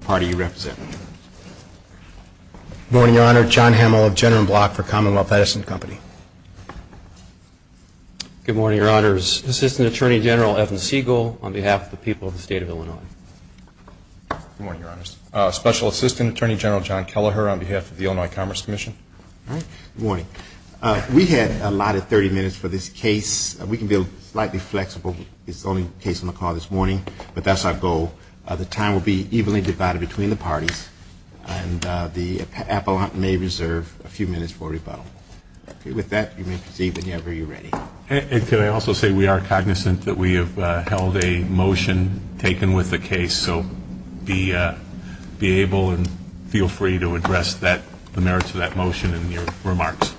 Good morning, Your Honor. John Hamel of General Block for Commonwealth Edison Company. Good morning, Your Honors. Assistant Attorney General Evan Siegel on behalf of the people of the State of Illinois. Good morning, Your Honors. Special Assistant Attorney General John Kelleher on behalf of the Illinois Commerce Commission. Good morning. We had allotted 30 minutes for this case. We can be slightly flexible. It's the only case on the call this morning, but that's our goal. The time will be evenly divided between the parties, and the appellant may reserve a few minutes for rebuttal. With that, you may proceed whenever you're ready. Can I also say we are cognizant that we have held a motion taken with the case, so be able and feel free to address the merits of that motion in your remarks.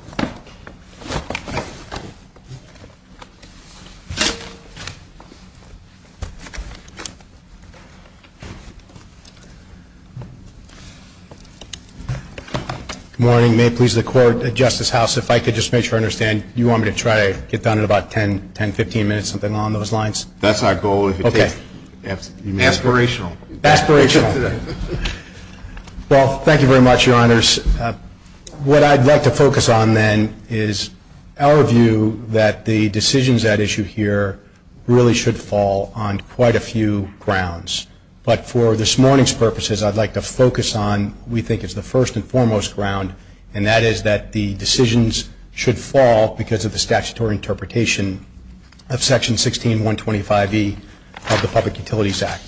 Good morning. May it please the Court, Justice House, if I could just make sure I understand, you want me to try to get done in about 10, 15 minutes, something along those lines? That's our goal. If it takes... Aspirational. Aspirational. Well, thank you very much, Your Honors. What I'd like to focus on, then, is our view that the decisions at issue here really should fall on quite a few grounds. But for this morning's purposes, I'd like to focus on what we think is the first and foremost ground, and that is that the decisions should fall because of the statutory interpretation of Section 16125E of the Public Utilities Act.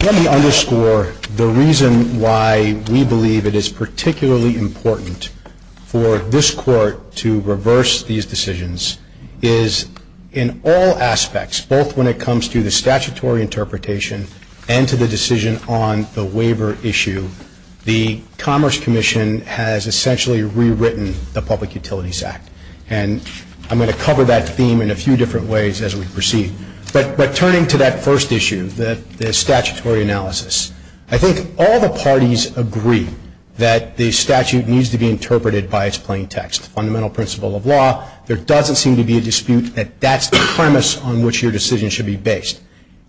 Let me underscore the reason why we believe it is particularly important for this Court to reverse these decisions is in all aspects, both when it comes to the statutory interpretation and to the decision on the waiver issue, the Commerce Commission has essentially rewritten the Public Utilities Act. And I'm going to cover that theme in a few different ways as we proceed. But turning to that first issue, the statutory analysis, I think all the parties agree that the statute needs to be interpreted by its plain text. Fundamental principle of law, there doesn't seem to be a dispute that that's the premise on which your decision should be based.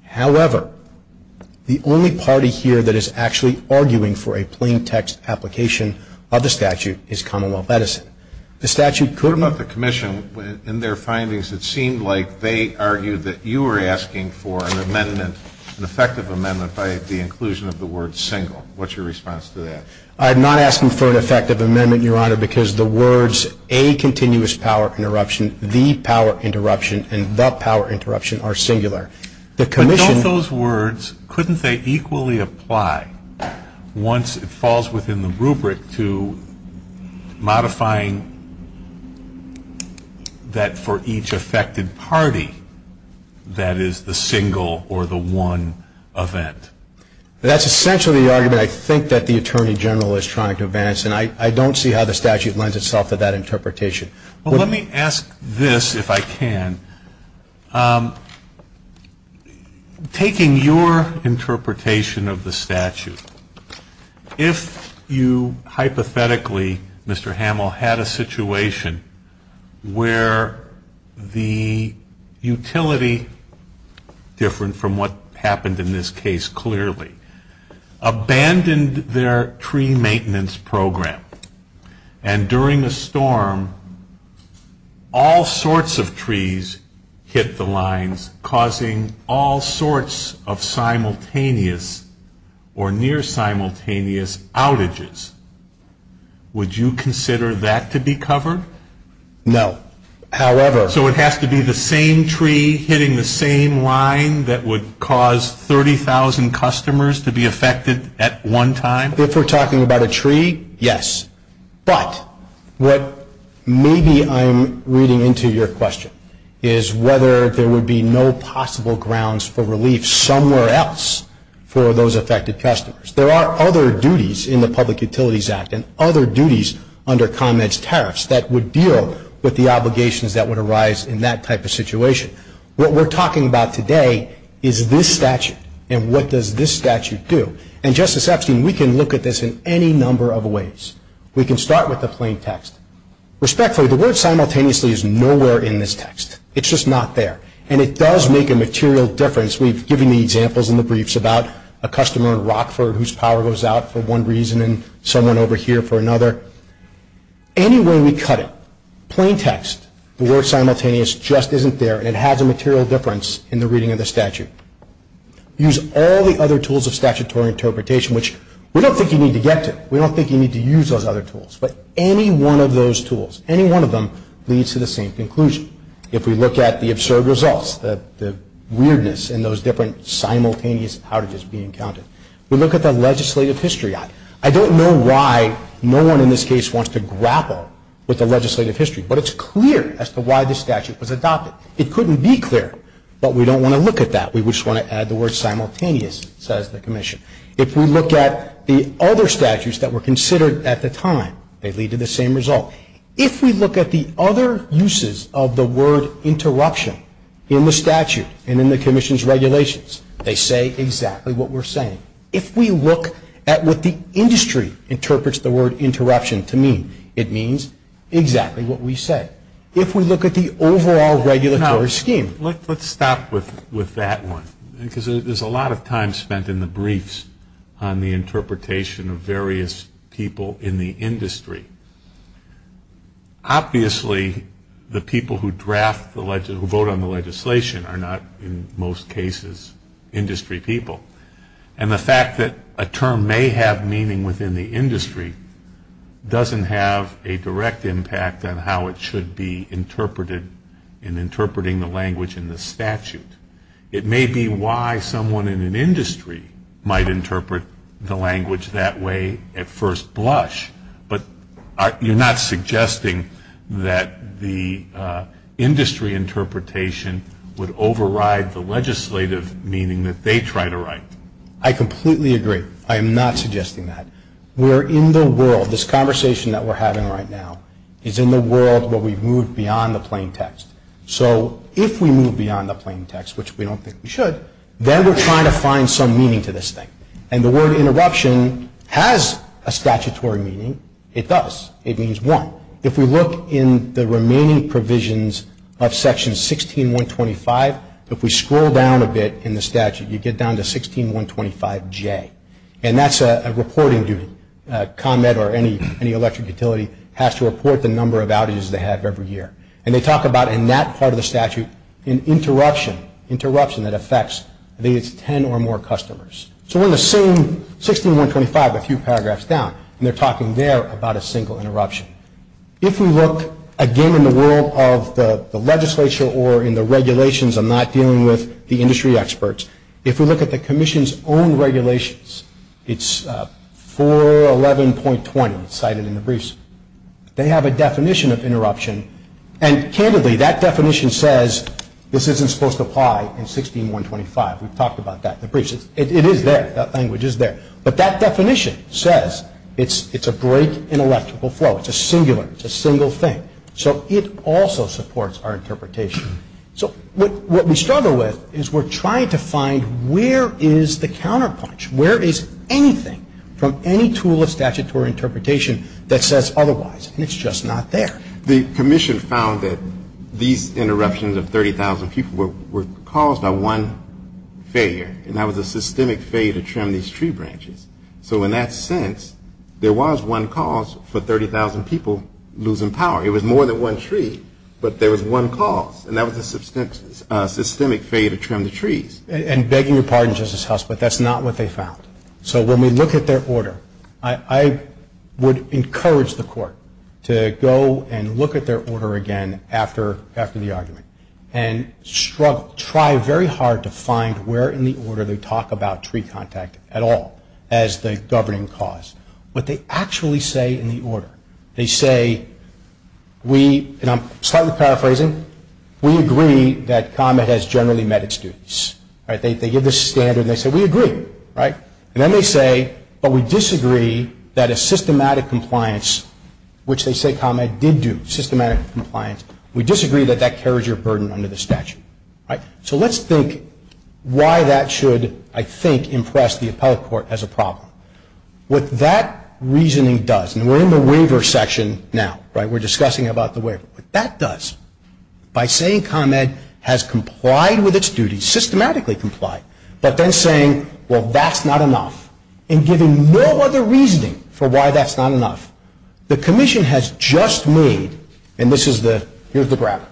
However, the only party here that is actually arguing for a plain text application of the statute is Commonwealth Medicine. The statute couldn't What about the Commission? In their findings, it seemed like they argued that you were asking for an amendment, an effective amendment, by the inclusion of the word single. What's your response to that? I'm not asking for an effective amendment, Your Honor, because the words a continuous power interruption, the power interruption, and the power interruption are singular. The Commission Those words, couldn't they equally apply once it falls within the rubric to modifying that for each affected party, that is the single or the one event? That's essentially the argument I think that the Attorney General is trying to advance. And I don't see how the statute lends itself to that interpretation. Well, let me ask this, if I can. Taking your interpretation of the statute, if you hypothetically, Mr. Hamill, had a situation where the utility, different from what happened in this case clearly, abandoned their tree maintenance program, and during a storm, all sorts of trees hit the lines, causing all sorts of simultaneous or near simultaneous outages, would you consider that to be covered? No. However So it has to be the same tree hitting the same line that would cause 30,000 customers to be affected at one time? If we're talking about a tree, yes. But what maybe I'm reading into your question is whether there would be no possible grounds for relief somewhere else for those affected customers. There are other duties in the Public Utilities Act and other duties under ComEd's tariffs that would deal with the obligations that would arise in that type of situation. What we're talking about today is this statute. And what does this statute do? And Justice Epstein, we can look at this in any number of ways. We can start with the plain text. Respectfully, the word simultaneously is nowhere in this text. It's just not there. And it does make a material difference. We've given the examples in the briefs about a customer in Rockford whose power goes out for one reason and someone over here for another. Any way we cut it, plain text, the word simultaneous just isn't there and it has a material difference in the reading of the statute. Use all the other tools of statutory interpretation, which we don't think you need to get to. We don't think you need to use those other tools. But any one of those tools, any one of them, leads to the same conclusion. If we look at the absurd results, the weirdness in those different simultaneous outages being counted. We look at the legislative history. I don't know why no one in this case wants to grapple with the legislative history. But it's clear as to why this statute was adopted. It couldn't be clearer. But we don't want to look at that. We just want to add the word simultaneous, says the Commission. If we look at the other statutes that were considered at the time, they lead to the same result. If we look at the other uses of the word interruption in the statute and in the Commission's regulations, they say exactly what we're saying. If we look at what the industry interprets the word interruption to mean, it means exactly what we say. If we look at the overall regulatory scheme. Let's stop with that one, because there's a lot of time spent in the briefs on the interpretation of various people in the industry. Obviously, the people who vote on the legislation are not, in most cases, industry people. And the fact that a term may have meaning within the industry doesn't have a direct impact on how it should be interpreted in interpreting the language in the statute. It may be why someone in an industry might interpret the language that way at first blush. But you're not suggesting that the industry interpretation would override the legislative meaning that they try to write. I completely agree. I am not suggesting that. We're in the world. This conversation that we're having right now is in the world where we've moved beyond the plain text. So if we move beyond the plain text, which we don't think we should, then we're trying to find some meaning to this thing. And the word interruption has a statutory meaning. It does. It means one. If we look in the remaining provisions of Section 16125, if we scroll down a bit in the statute, you get down to 16125J. And that's a reporting duty. ComEd or any electric utility has to report the number of outages they have every year. And they talk about, in that part of the statute, an interruption that affects at least 10 or more customers. So we're in the same 16125, a few paragraphs down, and they're talking there about a single interruption. If we look, again, in the world of the legislature or in the regulations, I'm not dealing with the industry experts. If we look at the Commission's own regulations, it's 411.20 cited in the briefs, they have a definition of interruption. And, candidly, that definition says this isn't supposed to apply in 16125. We've talked about that in the briefs. It is there. That language is there. But that definition says it's a break in electrical flow. It's a singular. It's a single thing. So it also supports our interpretation. So what we struggle with is we're trying to find where is the counterpunch? Where is anything from any tool of statutory interpretation that says otherwise? And it's just not there. The Commission found that these interruptions of 30,000 people were caused by one failure. And that was a systemic failure to trim these tree branches. So in that sense, there was one cause for 30,000 people losing power. It was more than one tree, but there was one cause. And that was a systemic failure to trim the trees. And begging your pardon, Justice Huss, but that's not what they found. So when we look at their order, I would encourage the Court to go and look at their order again after the argument and struggle, try very hard to find where in the order they talk about tree contact at all as the governing cause. What they actually say in the order, they say, and I'm slightly paraphrasing, we agree that Comet has generally met its duties. They give the standard and they say, we agree. And then they say, but we disagree that a systematic compliance, which they say Comet did do, systematic compliance, we disagree that that carries your burden under the statute. So let's think why that should, I think, impress the appellate court as a problem. What that reasoning does, and we're in the waiver section now, right, we're discussing about the waiver. What that does, by saying Comet has complied with its duties, systematically complied, but then saying, well, that's not enough, and giving no other reasoning for why that's not enough, the Commission has just made, and this is the, here's the graph,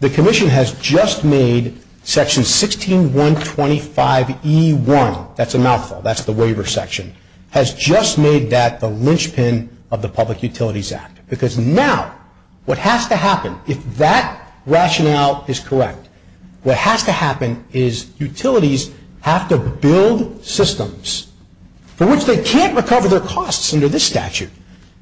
the Commission has just made section 16125E1, that's a mouthful, that's the waiver section, has just made that the linchpin of the Public Utilities Act. Because now what has to happen, if that rationale is correct, what has to happen is utilities have to build systems for which they can't recover their costs under this statute,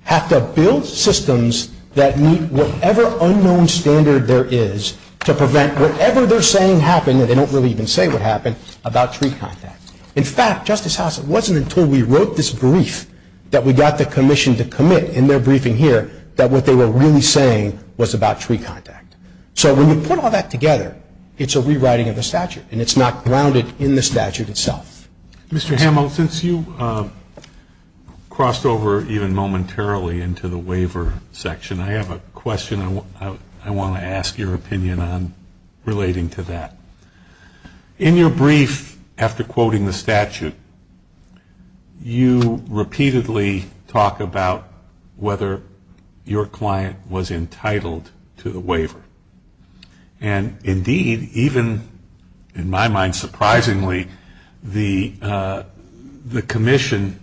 have to build systems that meet whatever unknown standard there is to prevent whatever they're saying happen, and they don't really even say what happened, about tree contact. In fact, Justice House, it wasn't until we wrote this brief that we got the Commission to commit in their briefing here that what they were really saying was about tree contact. So when you put all that together, it's a rewriting of the statute, and it's not grounded in the statute itself. Mr. Hamill, since you crossed over even momentarily into the waiver section, I have a question. I want to ask your opinion on relating to that. In your brief, after quoting the statute, you repeatedly talk about whether your client was entitled to the waiver. And indeed, even in my mind surprisingly, the Commission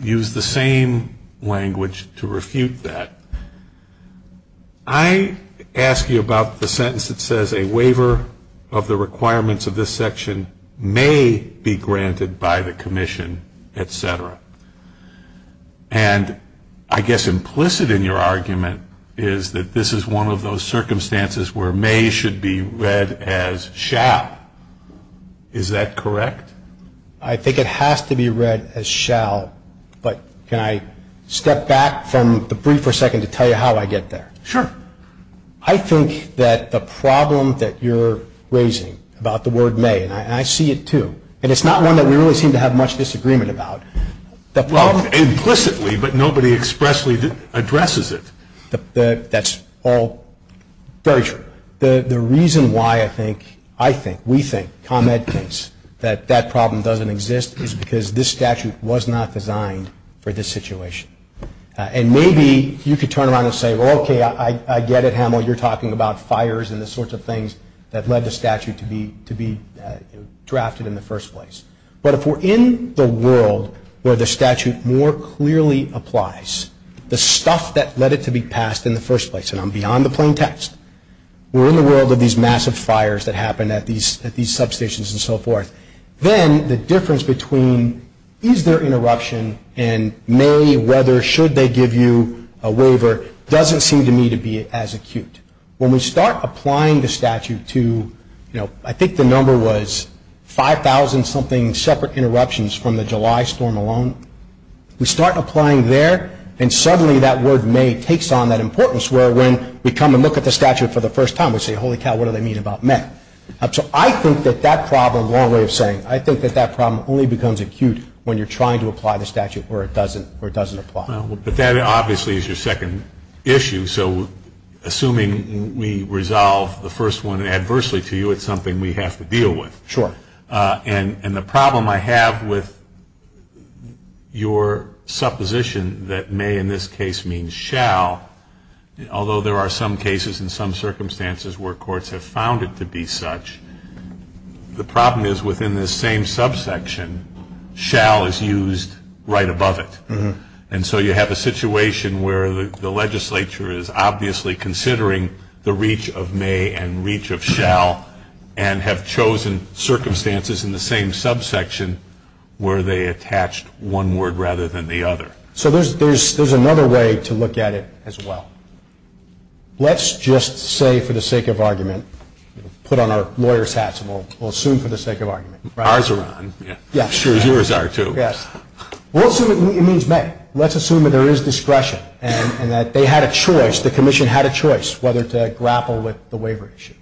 used the same language to refute that. I ask you about the sentence that says a waiver of the requirements of this section may be granted by the Commission, et cetera. And I guess implicit in your argument is that this is one of those circumstances where may should be read as shall. Is that correct? I think it has to be read as shall, but can I step back from the brief for a second to tell you how I get there? Sure. I think that the problem that you're raising about the word may, and I see it too, and it's not one that we really seem to have much disagreement about. Well, implicitly, but nobody expressly addresses it. That's all very true. The reason why I think, I think, we think, ComEd thinks that that problem doesn't exist is because this statute was not designed for this situation. And maybe you could turn around and say, well, okay, I get it, Hamill. You're talking about fires and the sorts of things that led the statute to be drafted in the first place. But if we're in the world where the statute more clearly applies, the stuff that led it to be passed in the first place, and I'm beyond the plain text, we're in the world of these massive fires that happen at these substations and so forth, then the difference between is there interruption and may, whether, should they give you a waiver, doesn't seem to me to be as acute. When we start applying the statute to, you know, I think the number was 5,000-something separate interruptions from the July storm alone, we start applying there, and suddenly that word may takes on that importance, where when we come and look at the statute for the first time, we say, holy cow, what do they mean about may? So I think that that problem, long way of saying, I think that that problem only becomes acute when you're trying to apply the statute where it doesn't apply. Well, but that obviously is your second issue. So assuming we resolve the first one adversely to you, it's something we have to deal with. Sure. And the problem I have with your supposition that may in this case mean shall, although there are some cases in some circumstances where courts have found it to be such, the problem is within this same subsection, shall is used right above it. And so you have a situation where the legislature is obviously considering the reach of may and reach of shall and have chosen circumstances in the same subsection where they attached one word rather than the other. So there's another way to look at it as well. Let's just say for the sake of argument, put on our lawyer's hats and we'll assume for the sake of argument. Ours are on. Yes. Yours are too. Yes. We'll assume it means may. Let's assume that there is discretion and that they had a choice, the commission had a choice, whether to grapple with the waiver issue.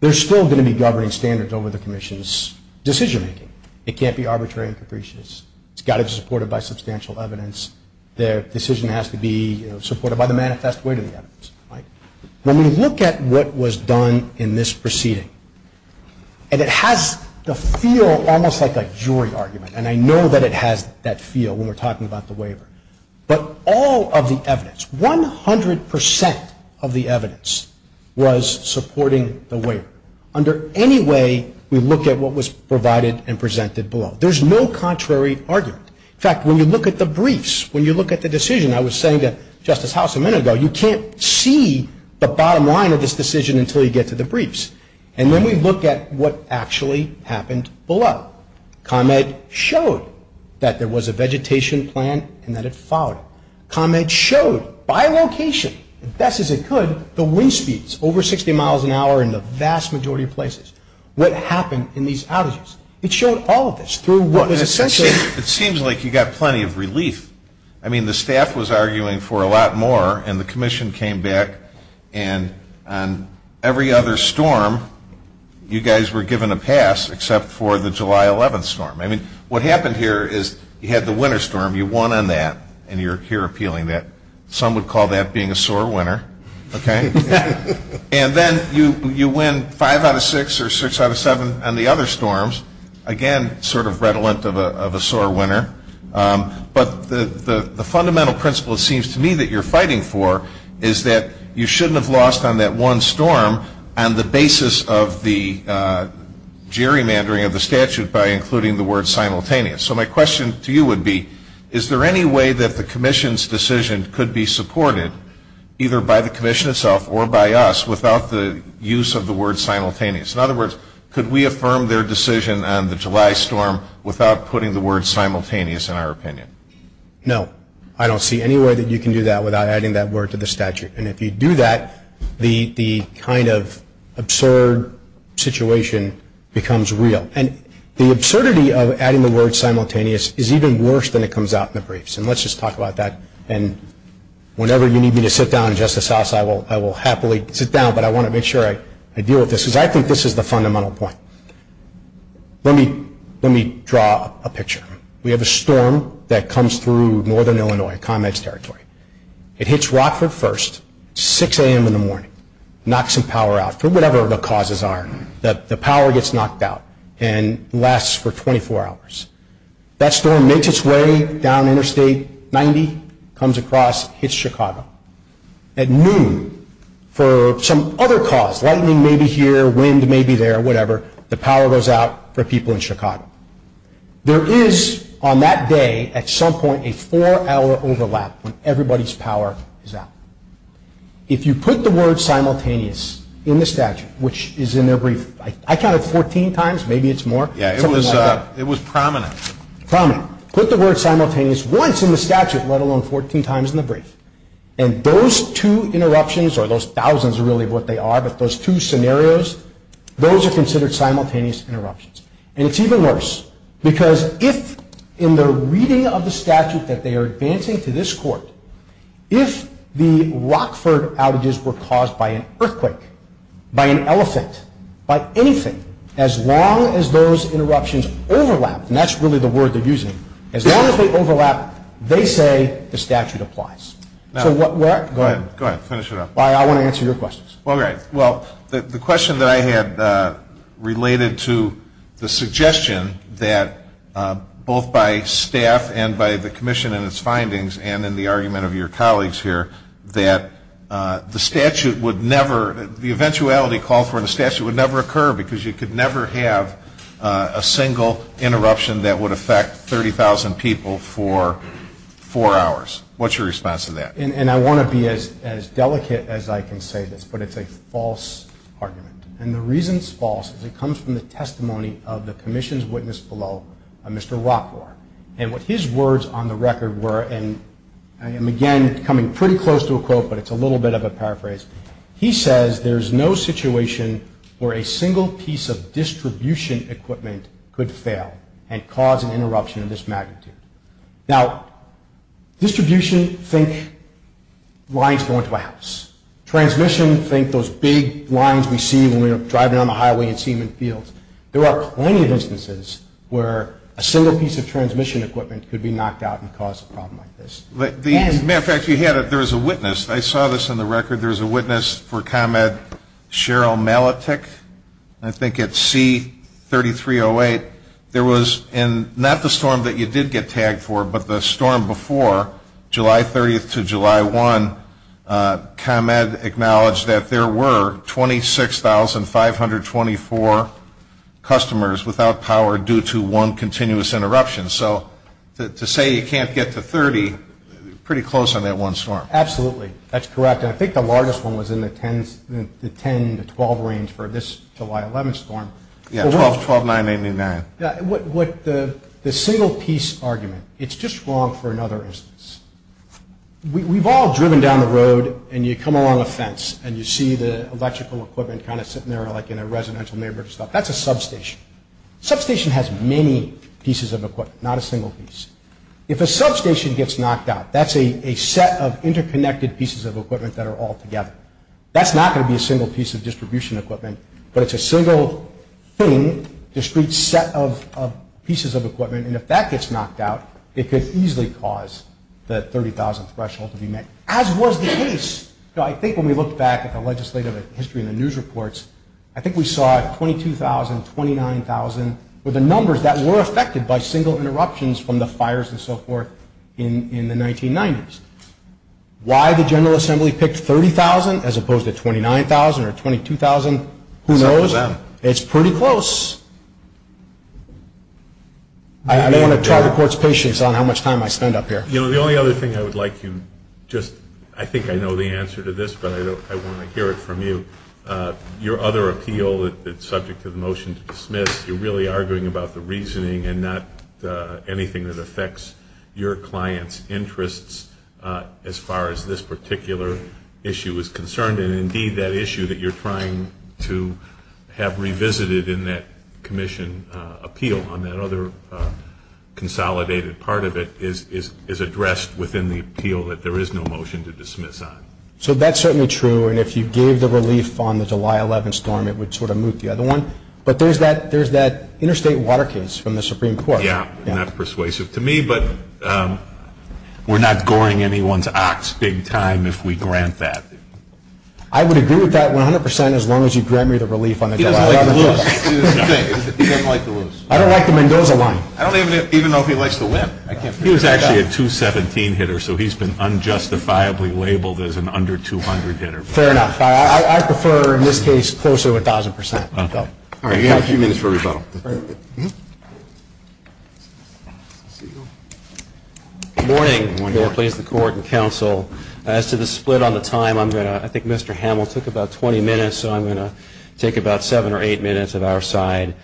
They're still going to be governing standards over the commission's decision making. It can't be arbitrary and capricious. It's got to be supported by substantial evidence. Their decision has to be supported by the manifest way to the evidence. When we look at what was done in this proceeding, and it has the feel almost like a jury argument, and I know that it has that feel when we're talking about the waiver, but all of the evidence, 100% of the evidence was supporting the waiver. Under any way we look at what was provided and presented below. There's no contrary argument. In fact, when you look at the briefs, when you look at the decision, I was saying to Justice House a minute ago, you can't see the bottom line of this decision until you get to the briefs. And then we look at what actually happened below. ComEd showed that there was a vegetation plan and that it followed it. ComEd showed by location, best as it could, the wind speeds over 60 miles an hour in the vast majority of places. What happened in these outages? It showed all of this through what was essentially. It seems like you got plenty of relief. I mean, the staff was arguing for a lot more, and the commission came back, and on every other storm, you guys were given a pass except for the July 11th storm. I mean, what happened here is you had the winter storm. You won on that, and you're here appealing that. Some would call that being a sore winner, okay? And then you win five out of six or six out of seven on the other storms. Again, sort of redolent of a sore winner. But the fundamental principle, it seems to me, that you're fighting for is that you shouldn't have lost on that one storm on the basis of the gerrymandering of the statute by including the word simultaneous. So my question to you would be, is there any way that the commission's decision could be supported, either by the commission itself or by us, without the use of the word simultaneous? In other words, could we affirm their decision on the July storm without putting the word simultaneous in our opinion? No. I don't see any way that you can do that without adding that word to the statute. And if you do that, the kind of absurd situation becomes real. And the absurdity of adding the word simultaneous is even worse than it comes out in the briefs, and let's just talk about that. And whenever you need me to sit down in Justice House, I will happily sit down, but I want to make sure I deal with this, because I think this is the fundamental point. Let me draw a picture. We have a storm that comes through northern Illinois, ComEd's territory. It hits Rockford first, 6 a.m. in the morning, knocks some power out for whatever the causes are. The power gets knocked out and lasts for 24 hours. That storm makes its way down interstate 90, comes across, hits Chicago. At noon, for some other cause, lightning may be here, wind may be there, whatever, the power goes out for people in Chicago. There is, on that day, at some point, a four-hour overlap when everybody's power is out. If you put the word simultaneous in the statute, which is in their brief, I counted 14 times, maybe it's more. Yeah, it was prominent. Put the word simultaneous once in the statute, let alone 14 times in the brief, and those two interruptions, or those thousands, really, of what they are, but those two scenarios, those are considered simultaneous interruptions. And it's even worse, because if in the reading of the statute that they are advancing to this court, if the Rockford outages were caused by an earthquake, by an elephant, by anything, as long as those interruptions overlap, and that's really the word they're using, as long as they overlap, they say the statute applies. Go ahead. Go ahead. Finish it up. I want to answer your questions. All right. Well, the question that I had related to the suggestion that both by staff and by the commission and its findings and in the argument of your colleagues here, that the statute would never, the eventuality called for in the statute would never occur, because you could never have a single interruption that would affect 30,000 people for four hours. What's your response to that? And I want to be as delicate as I can say this, but it's a false argument. And the reason it's false is it comes from the testimony of the commission's witness below, Mr. Rockford. And what his words on the record were, and I am, again, coming pretty close to a quote, but it's a little bit of a paraphrase. He says there's no situation where a single piece of distribution equipment could fail and cause an interruption of this magnitude. Now, distribution, think lines going to a house. Transmission, think those big lines we see when we're driving down the highway and see them in fields. There are plenty of instances where a single piece of transmission equipment could be knocked out and cause a problem like this. As a matter of fact, you had it. There was a witness. I saw this on the record. There was a witness for ComEd, Cheryl Maletich, I think at C-3308. There was in not the storm that you did get tagged for, but the storm before, July 30th to July 1, ComEd acknowledged that there were 26,524 customers without power due to one continuous interruption. So to say you can't get to 30, pretty close on that one storm. Absolutely. That's correct. And I think the largest one was in the 10 to 12 range for this July 11 storm. Yeah, 12, 12, 9, 89. The single piece argument, it's just wrong for another instance. We've all driven down the road, and you come along a fence, and you see the electrical equipment kind of sitting there like in a residential neighborhood. That's a substation. Substation has many pieces of equipment, not a single piece. If a substation gets knocked out, that's a set of interconnected pieces of equipment that are all together. That's not going to be a single piece of distribution equipment, but it's a single thing, discrete set of pieces of equipment, and if that gets knocked out, it could easily cause the 30,000 threshold to be met, as was the case. I think when we look back at the legislative history in the news reports, I think we saw 22,000, 29,000 were the numbers that were affected by single interruptions from the fires and so forth in the 1990s. Why the General Assembly picked 30,000 as opposed to 29,000 or 22,000, who knows? Except for them. It's pretty close. I don't want to target court's patience on how much time I spend up here. You know, the only other thing I would like you just, I think I know the answer to this, but I want to hear it from you. Your other appeal that's subject to the motion to dismiss, you're really arguing about the reasoning and not anything that affects your client's interests as far as this particular issue is concerned, and indeed that issue that you're trying to have revisited in that commission appeal on that other consolidated part of it is addressed within the appeal that there is no motion to dismiss on. So that's certainly true, and if you gave the relief on the July 11th storm, it would sort of move the other one, but there's that interstate water case from the Supreme Court. Yeah, not persuasive to me, but we're not goring anyone's ox big time if we grant that. I would agree with that 100% as long as you grant me the relief on the July 11th storm. He doesn't like to lose. He doesn't like to lose. I don't like the Mendoza line. I don't even know if he likes to win. He was actually a 217 hitter, so he's been unjustifiably labeled as an under 200 hitter. Fair enough. I prefer, in this case, closer to 1,000%. All right, you have a few minutes for rebuttal. Good morning. Good morning. Please, the court and counsel. As to the split on the time, I'm going to, I think Mr. Hamill took about 20 minutes, so I'm going to take about seven or eight minutes at our side,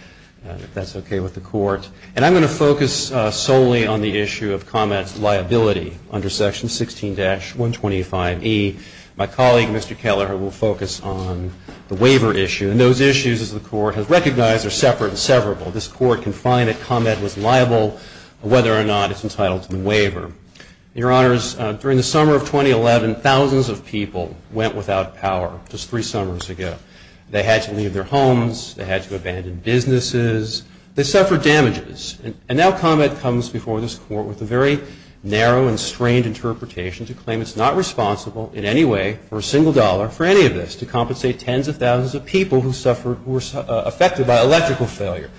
if that's okay with the court. And I'm going to focus solely on the issue of Comet's liability under Section 16-125E. My colleague, Mr. Keller, will focus on the waiver issue. And those issues, as the court has recognized, are separate and severable. This court can find that Comet was liable whether or not it's entitled to the waiver. Your Honors, during the summer of 2011, thousands of people went without power just three summers ago. They had to leave their homes. They had to abandon businesses. They suffered damages. And now Comet comes before this court with a very narrow and strained interpretation to claim it's not responsible in any way for a single dollar for any of this, to compensate tens of thousands of people who suffered, who were affected by electrical failure.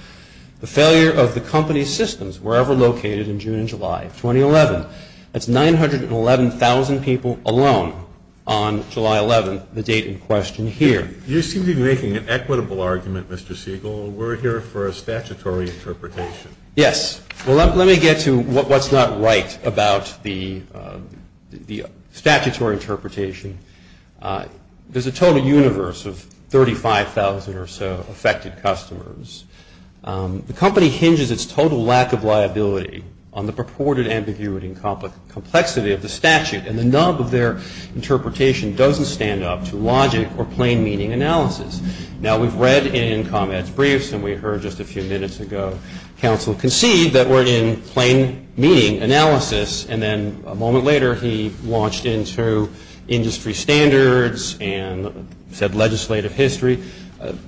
The failure of the company's systems, wherever located in June and July of 2011, that's 911,000 people alone on July 11th, the date in question here. You seem to be making an equitable argument, Mr. Siegel. We're here for a statutory interpretation. Yes. Well, let me get to what's not right about the statutory interpretation. There's a total universe of 35,000 or so affected customers. The company hinges its total lack of liability on the purported ambiguity and complexity of the statute, and the nub of their interpretation doesn't stand up to logic or plain meaning analysis. Now, we've read in Comet's briefs, and we heard just a few minutes ago, counsel concede that we're in plain meaning analysis, and then a moment later he launched into industry standards and said legislative history,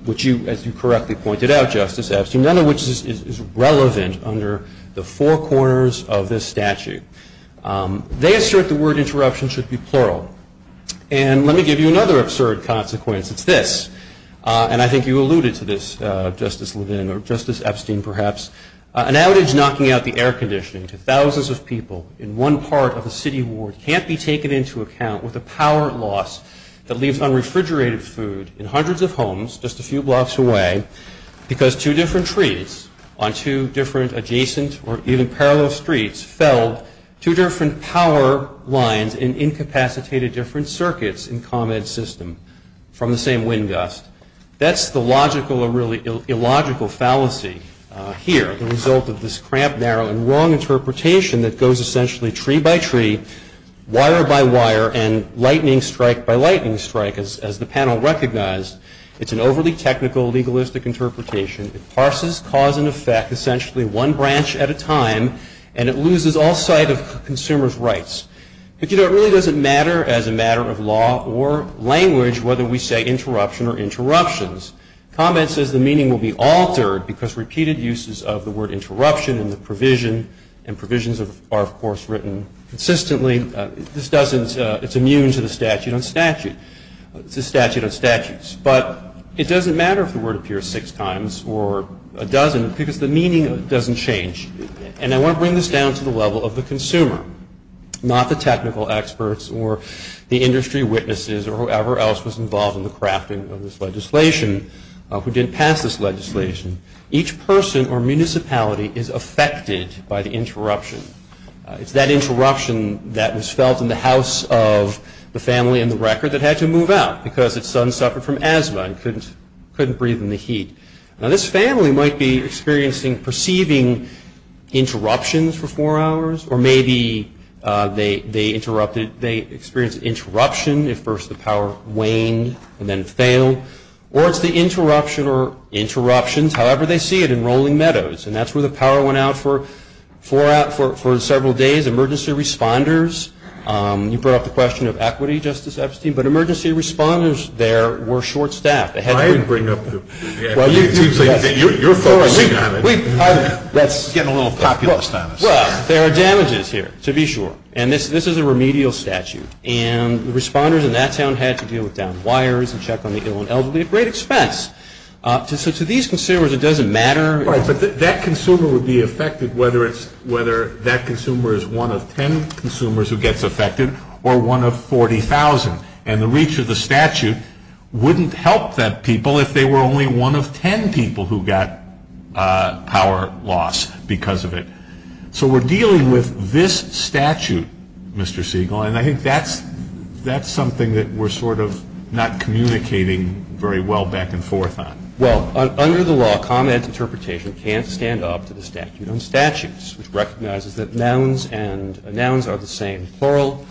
which you, as you correctly pointed out, Justice Epstein, none of which is relevant under the four corners of this statute. They assert the word interruption should be plural. And let me give you another absurd consequence. It's this, and I think you alluded to this, Justice Levin, or Justice Epstein, perhaps, an outage knocking out the air conditioning to thousands of people in one part of a city ward can't be taken into account with a power loss that leaves unrefrigerated food in hundreds of homes just a few blocks away because two different trees on two different adjacent or even parallel streets felled two different power lines in incapacitated different circuits in Comet's system from the same wind gust. That's the logical or really illogical fallacy here, the result of this cramp, narrow, and wrong interpretation that goes essentially tree by tree, wire by wire, and lightning strike by lightning strike, as the panel recognized. It's an overly technical, legalistic interpretation. It parses cause and effect essentially one branch at a time, and it loses all sight of consumers' rights. But, you know, it really doesn't matter as a matter of law or language whether we say interruption or interruptions. Comet says the meaning will be altered because repeated uses of the word interruption and the provision, and provisions are, of course, written consistently. This doesn't, it's immune to the statute on statutes. But it doesn't matter if the word appears six times or a dozen because the meaning doesn't change. And I want to bring this down to the level of the consumer, not the technical experts or the industry witnesses or whoever else was involved in the crafting of this legislation who didn't pass this legislation. Each person or municipality is affected by the interruption. It's that interruption that was felt in the house of the family in the record that had to move out because its son suffered from asthma and couldn't breathe in the heat. Now, this family might be experiencing perceiving interruptions for four hours or maybe they experienced interruption if first the power waned and then failed. Or it's the interruption or interruptions, however they see it, in Rolling Meadows. And that's where the power went out for several days, emergency responders. You brought up the question of equity, Justice Epstein, but emergency responders there were short-staffed. You're focusing on it. That's getting a little populist on us. Well, there are damages here, to be sure. And this is a remedial statute. And the responders in that town had to deal with downed wires and check on the ill and elderly at great expense. So to these consumers it doesn't matter. Right, but that consumer would be affected whether that consumer is one of ten consumers who gets affected or one of 40,000. And the reach of the statute wouldn't help that people if they were only one of ten people who got power loss because of it. So we're dealing with this statute, Mr. Siegel, and I think that's something that we're sort of not communicating very well back and forth on. Well, under the law, comment interpretation can't stand up to the statute on statutes, which recognizes that nouns and nouns are the same, plural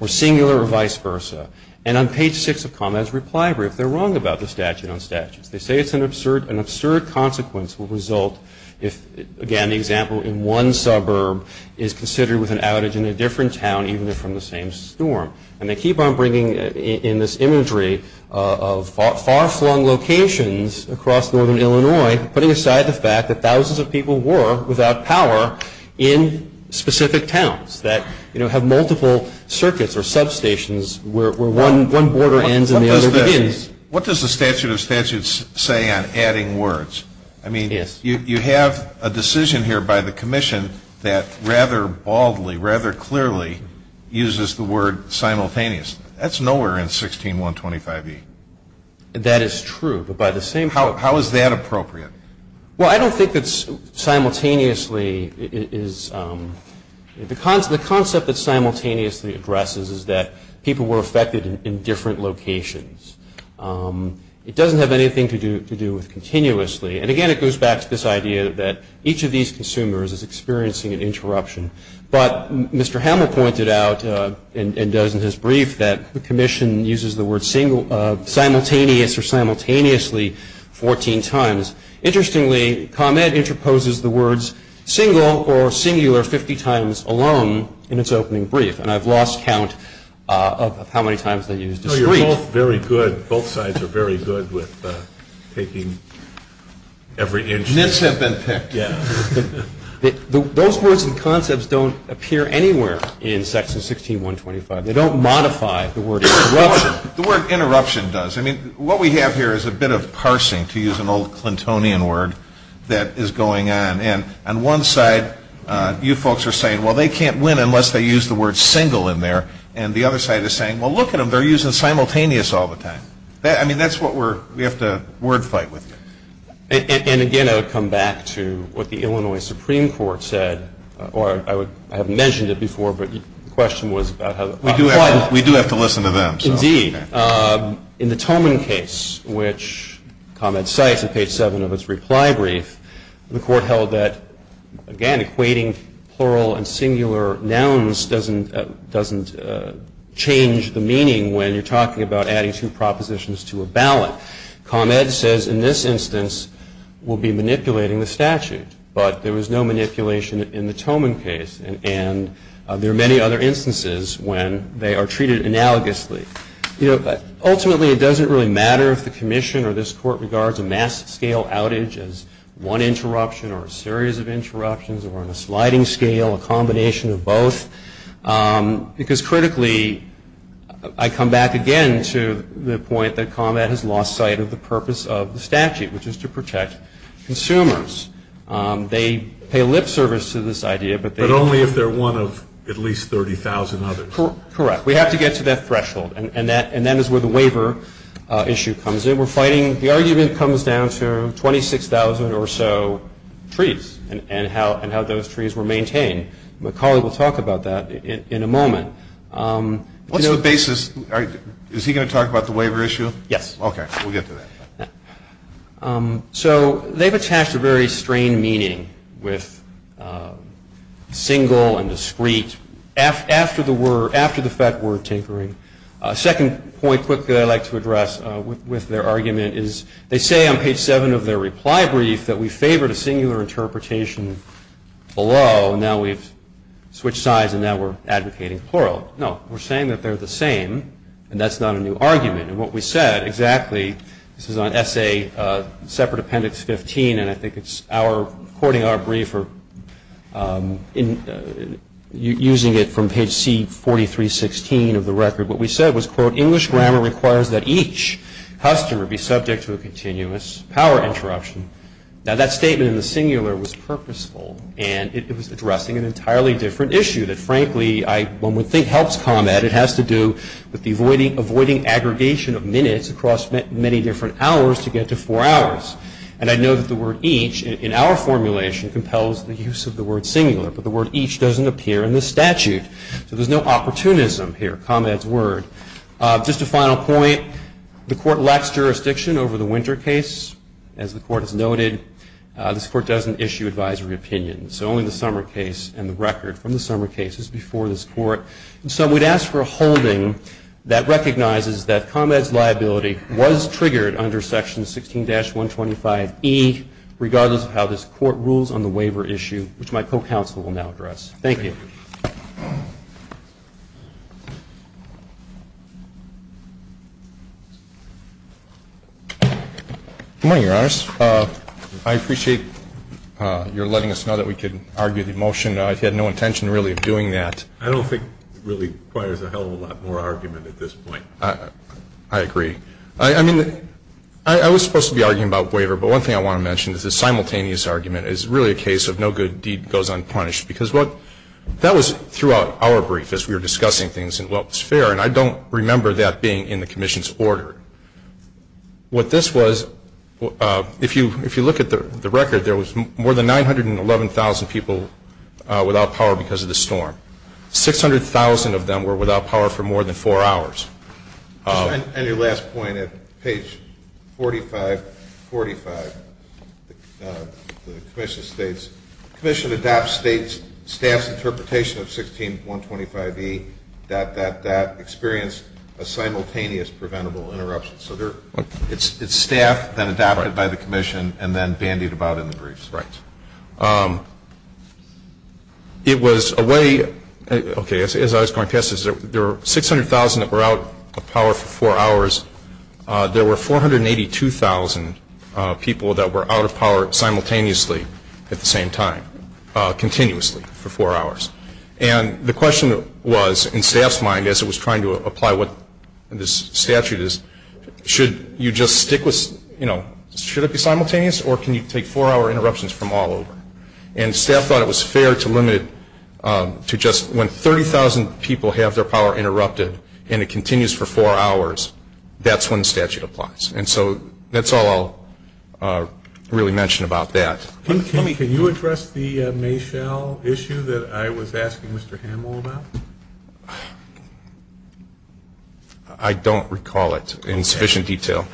or singular or vice versa. And on page six of comments reply brief, they're wrong about the statute on statutes. They say it's an absurd consequence will result if, again, the example in one suburb is considered with an outage in a different town even if from the same storm. And they keep on bringing in this imagery of far-flung locations across northern Illinois, putting aside the fact that thousands of people were without power in specific towns that, you know, have multiple circuits or substations where one border ends and the other begins. What does the statute of statutes say on adding words? I mean, you have a decision here by the commission that rather baldly, rather clearly, uses the word simultaneous. That's nowhere in 16125E. That is true. How is that appropriate? Well, I don't think that simultaneously is the concept. The concept that simultaneously addresses is that people were affected in different locations. It doesn't have anything to do with continuously. And, again, it goes back to this idea that each of these consumers is experiencing an interruption. But Mr. Hamill pointed out and does in his brief that the commission uses the word simultaneous or simultaneously 14 times. Interestingly, ComEd interposes the words single or singular 50 times alone in its opening brief. And I've lost count of how many times they used discrete. No, you're both very good. Both sides are very good with taking every inch. Nits have been picked. Yeah. Those words and concepts don't appear anywhere in Section 16125. They don't modify the word interruption. The word interruption does. I mean, what we have here is a bit of parsing, to use an old Clintonian word, that is going on. And on one side, you folks are saying, well, they can't win unless they use the word single in there. And the other side is saying, well, look at them. They're using simultaneous all the time. I mean, that's what we have to word fight with you. And, again, I would come back to what the Illinois Supreme Court said, or I haven't mentioned it before, but the question was about how the court. We do have to listen to them. Indeed. In the Toman case, which ComEd cites in page 7 of its reply brief, the court held that, again, equating plural and singular nouns doesn't change the meaning when you're talking about adding two propositions to a ballot. ComEd says, in this instance, we'll be manipulating the statute. But there was no manipulation in the Toman case. And there are many other instances when they are treated analogously. Ultimately, it doesn't really matter if the commission or this court regards a mass scale outage as one interruption or a series of interruptions or on a sliding scale, a combination of both, because, critically, I come back again to the point that ComEd has lost sight of the purpose of the statute, which is to protect consumers. They pay lip service to this idea. But only if they're one of at least 30,000 others. Correct. We have to get to that threshold. And that is where the waiver issue comes in. We're fighting the argument comes down to 26,000 or so trees and how those trees were maintained. McCauley will talk about that in a moment. What's the basis? Is he going to talk about the waiver issue? Yes. Okay. We'll get to that. So they've attached a very strained meaning with single and discrete after the fact word tinkering. A second point quickly I'd like to address with their argument is they say on page 7 of their reply brief that we favored a singular interpretation below. Now we've switched sides and now we're advocating plural. No. We're saying that they're the same. And that's not a new argument. And what we said exactly, this is on Essay Separate Appendix 15, and I think it's our recording our brief using it from page C4316 of the record. What we said was, quote, English grammar requires that each customer be subject to a continuous power interruption. Now that statement in the singular was purposeful and it was addressing an entirely different issue that, frankly, one would think helps ComEd. It has to do with the avoiding aggregation of minutes across many different hours to get to four hours. And I know that the word each in our formulation compels the use of the word singular, but the word each doesn't appear in the statute. So there's no opportunism here, ComEd's word. Just a final point. The Court lacks jurisdiction over the Winter case. As the Court has noted, this Court doesn't issue advisory opinions, so only the Summer case and the record from the Summer case is before this Court. And so we'd ask for a holding that recognizes that ComEd's liability was triggered under Section 16-125e, regardless of how this Court rules on the waiver issue, which my co-counsel will now address. Thank you. Good morning, Your Honors. I appreciate your letting us know that we could argue the motion. I had no intention, really, of doing that. I don't think it really requires a hell of a lot more argument at this point. I agree. I mean, I was supposed to be arguing about waiver, but one thing I want to mention is the simultaneous argument is really a case of no good deed goes unpunished That was throughout our brief as we were discussing things and what was fair, and I don't remember that being in the Commission's order. What this was, if you look at the record, there was more than 911,000 people without power because of the storm. 600,000 of them were without power for more than four hours. And your last point at page 4545, the Commission states, staff's interpretation of 16125E, that that experienced a simultaneous preventable interruption. So it's staff, then adopted by the Commission, and then bandied about in the briefs. Right. It was a way, okay, as I was going past this, there were 600,000 that were out of power for four hours. There were 482,000 people that were out of power simultaneously at the same time, continuously for four hours. And the question was, in staff's mind, as it was trying to apply what this statute is, should you just stick with, you know, should it be simultaneous or can you take four-hour interruptions from all over? And staff thought it was fair to limit it to just when 30,000 people have their power interrupted and it continues for four hours, that's when the statute applies. And so that's all I'll really mention about that. Can you address the Mayschall issue that I was asking Mr. Hanwell about? I don't recall it in sufficient detail.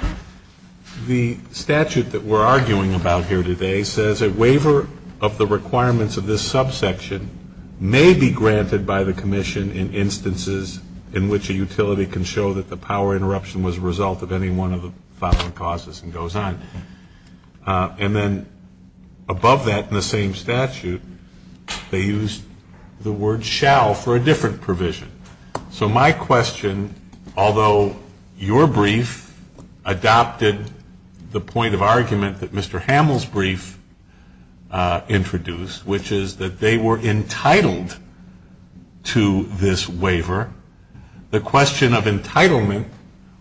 The statute that we're arguing about here today says a waiver of the requirements of this subsection may be granted by the commission in instances in which a utility can show that the power interruption was a result of any one of the following causes and goes on. And then above that in the same statute, they used the word shall for a different provision. So my question, although your brief adopted the point of argument that Mr. Hanwell's brief introduced, which is that they were entitled to this waiver, the question of entitlement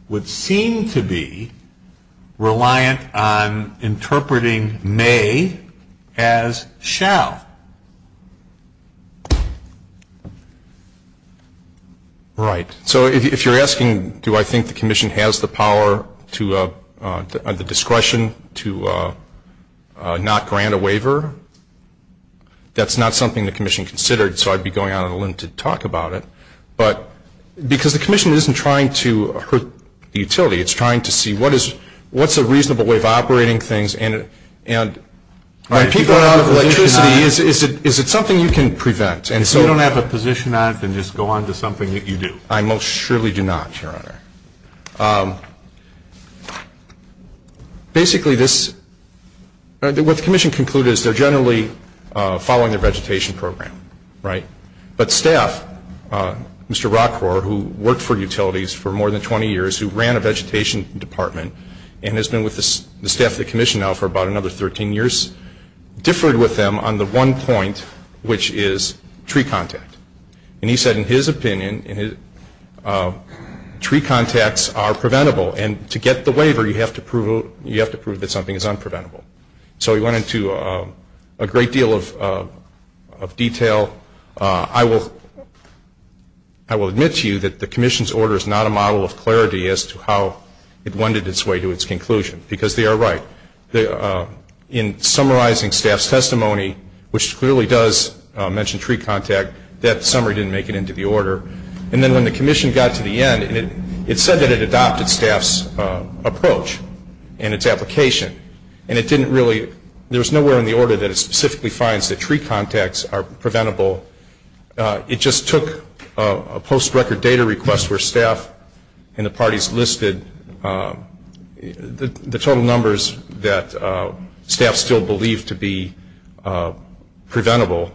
would seem to be reliant on interpreting may as shall. Right. So if you're asking do I think the commission has the power, the discretion to not grant a waiver, that's not something the commission considered, so I'd be going out on a limb to talk about it. But because the commission isn't trying to hurt the utility, it's trying to see what's a reasonable way of operating things. And people are out of electricity, is it something you can prevent? If you don't have a position on it, then just go on to something that you do. I most surely do not, Your Honor. Basically, what the commission concluded is they're generally following their vegetation program, right? But staff, Mr. Rockhor, who worked for utilities for more than 20 years, who ran a vegetation department and has been with the staff of the commission now for about another 13 years, differed with them on the one point, which is tree contact. And he said in his opinion, tree contacts are preventable, and to get the waiver you have to prove that something is unpreventable. So he went into a great deal of detail. I will admit to you that the commission's order is not a model of clarity as to how it wended its way to its conclusion, because they are right. In summarizing staff's testimony, which clearly does mention tree contact, that summary didn't make it into the order. And then when the commission got to the end, it said that it adopted staff's approach and its application. And it didn't really, there was nowhere in the order that it specifically finds that tree contacts are preventable. It just took a post-record data request where staff and the parties listed the total numbers that staff still believed to be preventable.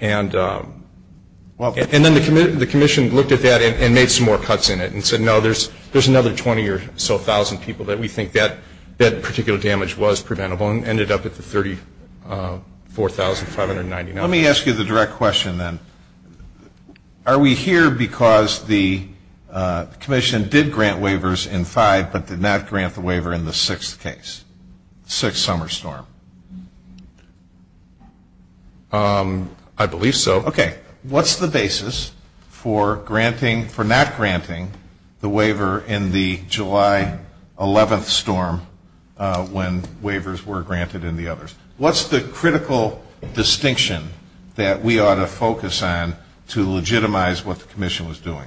And then the commission looked at that and made some more cuts in it and said, no, there's another 20 or so thousand people that we think that particular damage was preventable and ended up at the $34,599. Let me ask you the direct question then. Are we here because the commission did grant waivers in five, but did not grant the waiver in the sixth case, sixth summer storm? I believe so. Okay. What's the basis for granting, for not granting the waiver in the July 11th storm when waivers were granted in the others? What's the critical distinction that we ought to focus on to legitimize what the commission was doing?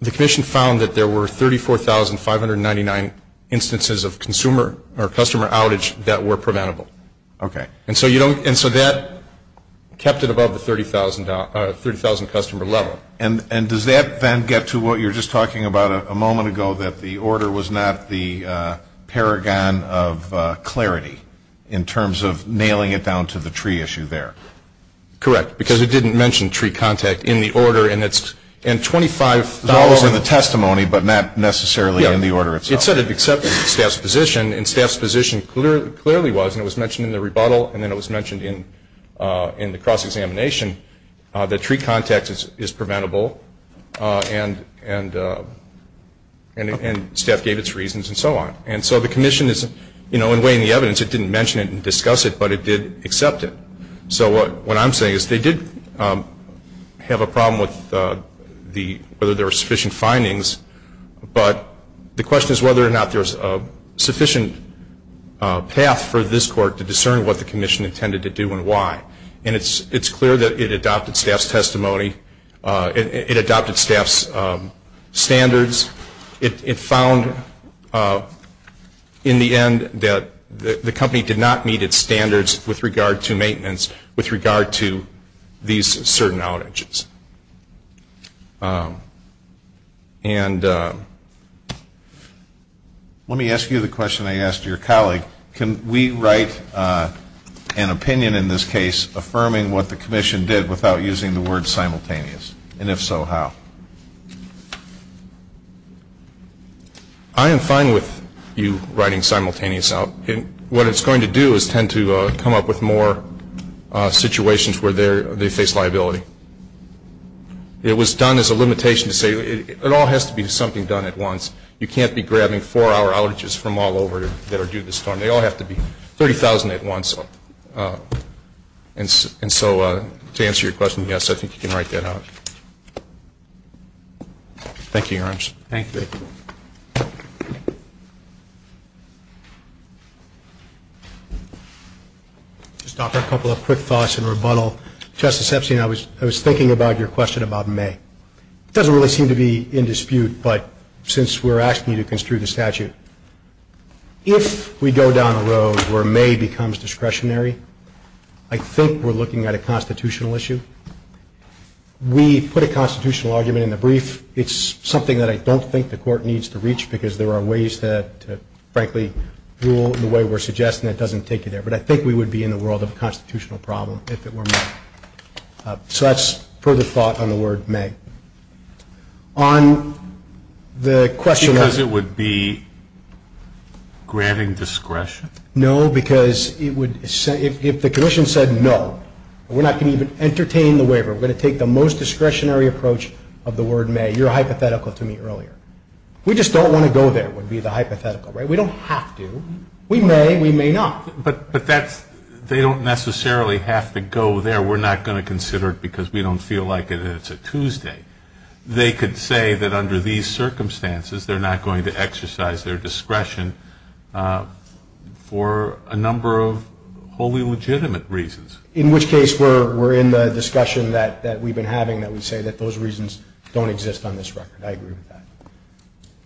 The commission found that there were 34,599 instances of consumer or customer outage that were preventable. Okay. And so that kept it above the 30,000 customer level. And does that then get to what you were just talking about a moment ago, that the order was not the paragon of clarity in terms of nailing it down to the tree issue there? Correct, because it didn't mention tree contact in the order. And $25 in the testimony, but not necessarily in the order itself. It said it accepted staff's position, and staff's position clearly was, and it was mentioned in the rebuttal and then it was mentioned in the cross-examination, that tree contact is preventable and staff gave its reasons and so on. And so the commission, in weighing the evidence, it didn't mention it and discuss it, but it did accept it. So what I'm saying is they did have a problem with whether there were sufficient findings, but the question is whether or not there's a sufficient path for this court to discern what the commission intended to do and why. And it's clear that it adopted staff's testimony. It adopted staff's standards. It found in the end that the company did not meet its standards with regard to maintenance, with regard to these certain outages. And let me ask you the question I asked your colleague. Can we write an opinion in this case affirming what the commission did without using the word simultaneous? And if so, how? I am fine with you writing simultaneous out. What it's going to do is tend to come up with more situations where they face liability. It was done as a limitation to say it all has to be something done at once. You can't be grabbing four-hour outages from all over that are due this term. They all have to be $30,000 at once. And so to answer your question, yes, I think you can write that out. Thank you, Your Honor. Thank you. Just offer a couple of quick thoughts in rebuttal. Justice Epstein, I was thinking about your question about May. It doesn't really seem to be in dispute, but since we're asking you to construe the statute, if we go down a road where May becomes discretionary, I think we're looking at a constitutional issue. We put a constitutional argument in the brief. It's something that I don't think the court needs to reach because there are ways that, frankly, rule in the way we're suggesting that doesn't take you there. But I think we would be in the world of a constitutional problem if it were May. So that's further thought on the word May. Because it would be granting discretion? No, because if the commission said no, we're not going to even entertain the waiver. We're going to take the most discretionary approach of the word May. You were hypothetical to me earlier. We just don't want to go there would be the hypothetical. We don't have to. We may. We may not. But that's they don't necessarily have to go there. We're not going to consider it because we don't feel like it and it's a Tuesday. They could say that under these circumstances they're not going to exercise their discretion for a number of wholly legitimate reasons. In which case we're in the discussion that we've been having that we say that those reasons don't exist on this record. I agree with that.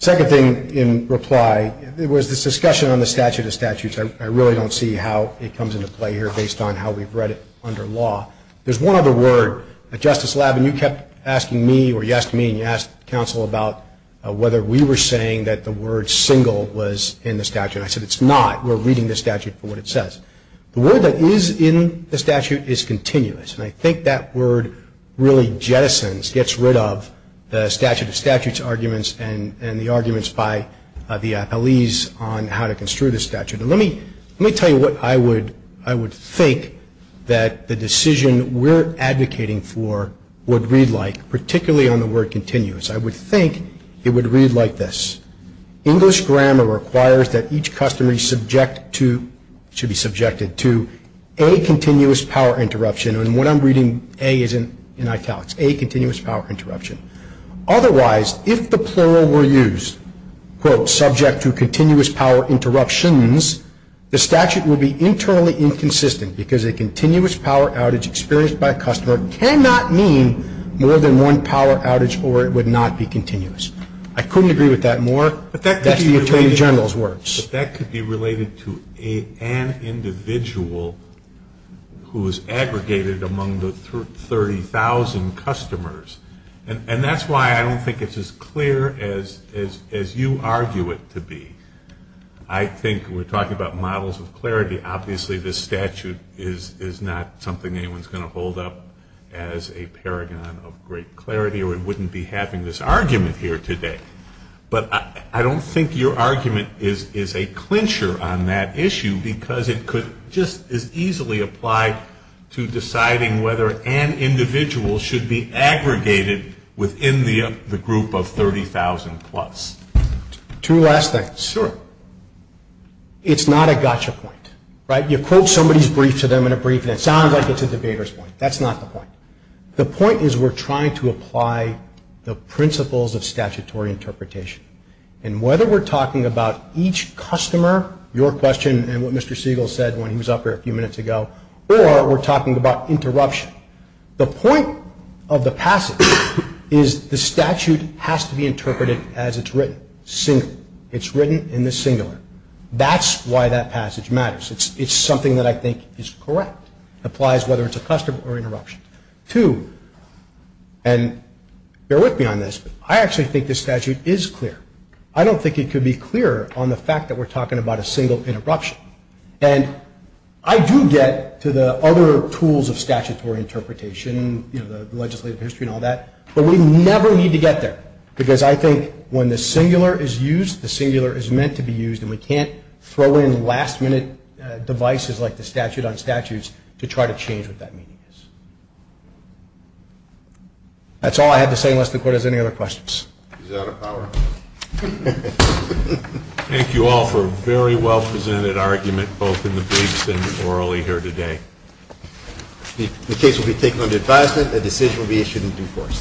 Second thing in reply was this discussion on the statute of statutes. I really don't see how it comes into play here based on how we've read it under law. There's one other word. Justice Labin, you kept asking me or you asked me and you asked counsel about whether we were saying that the word single was in the statute. I said it's not. We're reading the statute for what it says. The word that is in the statute is continuous. And I think that word really jettisons, gets rid of the statute of statutes arguments and the arguments by the appellees on how to construe the statute. And let me tell you what I would think that the decision we're advocating for would read like, particularly on the word continuous. I would think it would read like this. English grammar requires that each customer be subjected to a continuous power interruption. And what I'm reading a is in italics, a continuous power interruption. Otherwise, if the plural were used, quote, subject to continuous power interruptions, the statute would be internally inconsistent because a continuous power outage experienced by a customer cannot mean more than one power outage or it would not be continuous. I couldn't agree with that more. That's the attorney general's words. But that could be related to an individual who is aggregated among the 30,000 customers. And that's why I don't think it's as clear as you argue it to be. I think we're talking about models of clarity. Obviously, this statute is not something anyone's going to hold up as a paragon of great clarity or it wouldn't be having this argument here today. But I don't think your argument is a clincher on that issue because it could just as easily apply to deciding whether an individual should be aggregated within the group of 30,000 plus. Two last things. Sure. It's not a gotcha point. Right? You quote somebody's brief to them in a brief and it sounds like it's a debater's point. That's not the point. The point is we're trying to apply the principles of statutory interpretation. And whether we're talking about each customer, your question and what Mr. Siegel said when he was up here a few minutes ago, or we're talking about interruption, the point of the passage is the statute has to be interpreted as it's written. It's written in the singular. That's why that passage matters. It's something that I think is correct. It applies whether it's a customer or interruption. Two, and bear with me on this, but I actually think this statute is clear. I don't think it could be clearer on the fact that we're talking about a single interruption. And I do get to the other tools of statutory interpretation, you know, the legislative history and all that, but we never need to get there because I think when the singular is used, the singular is meant to be used and we can't throw in last-minute devices like the statute on statutes to try to change what that meaning is. That's all I have to say unless the Court has any other questions. He's out of power. Thank you all for a very well-presented argument both in the briefs and orally here today. The case will be taken under advisement. A decision will be issued in due course.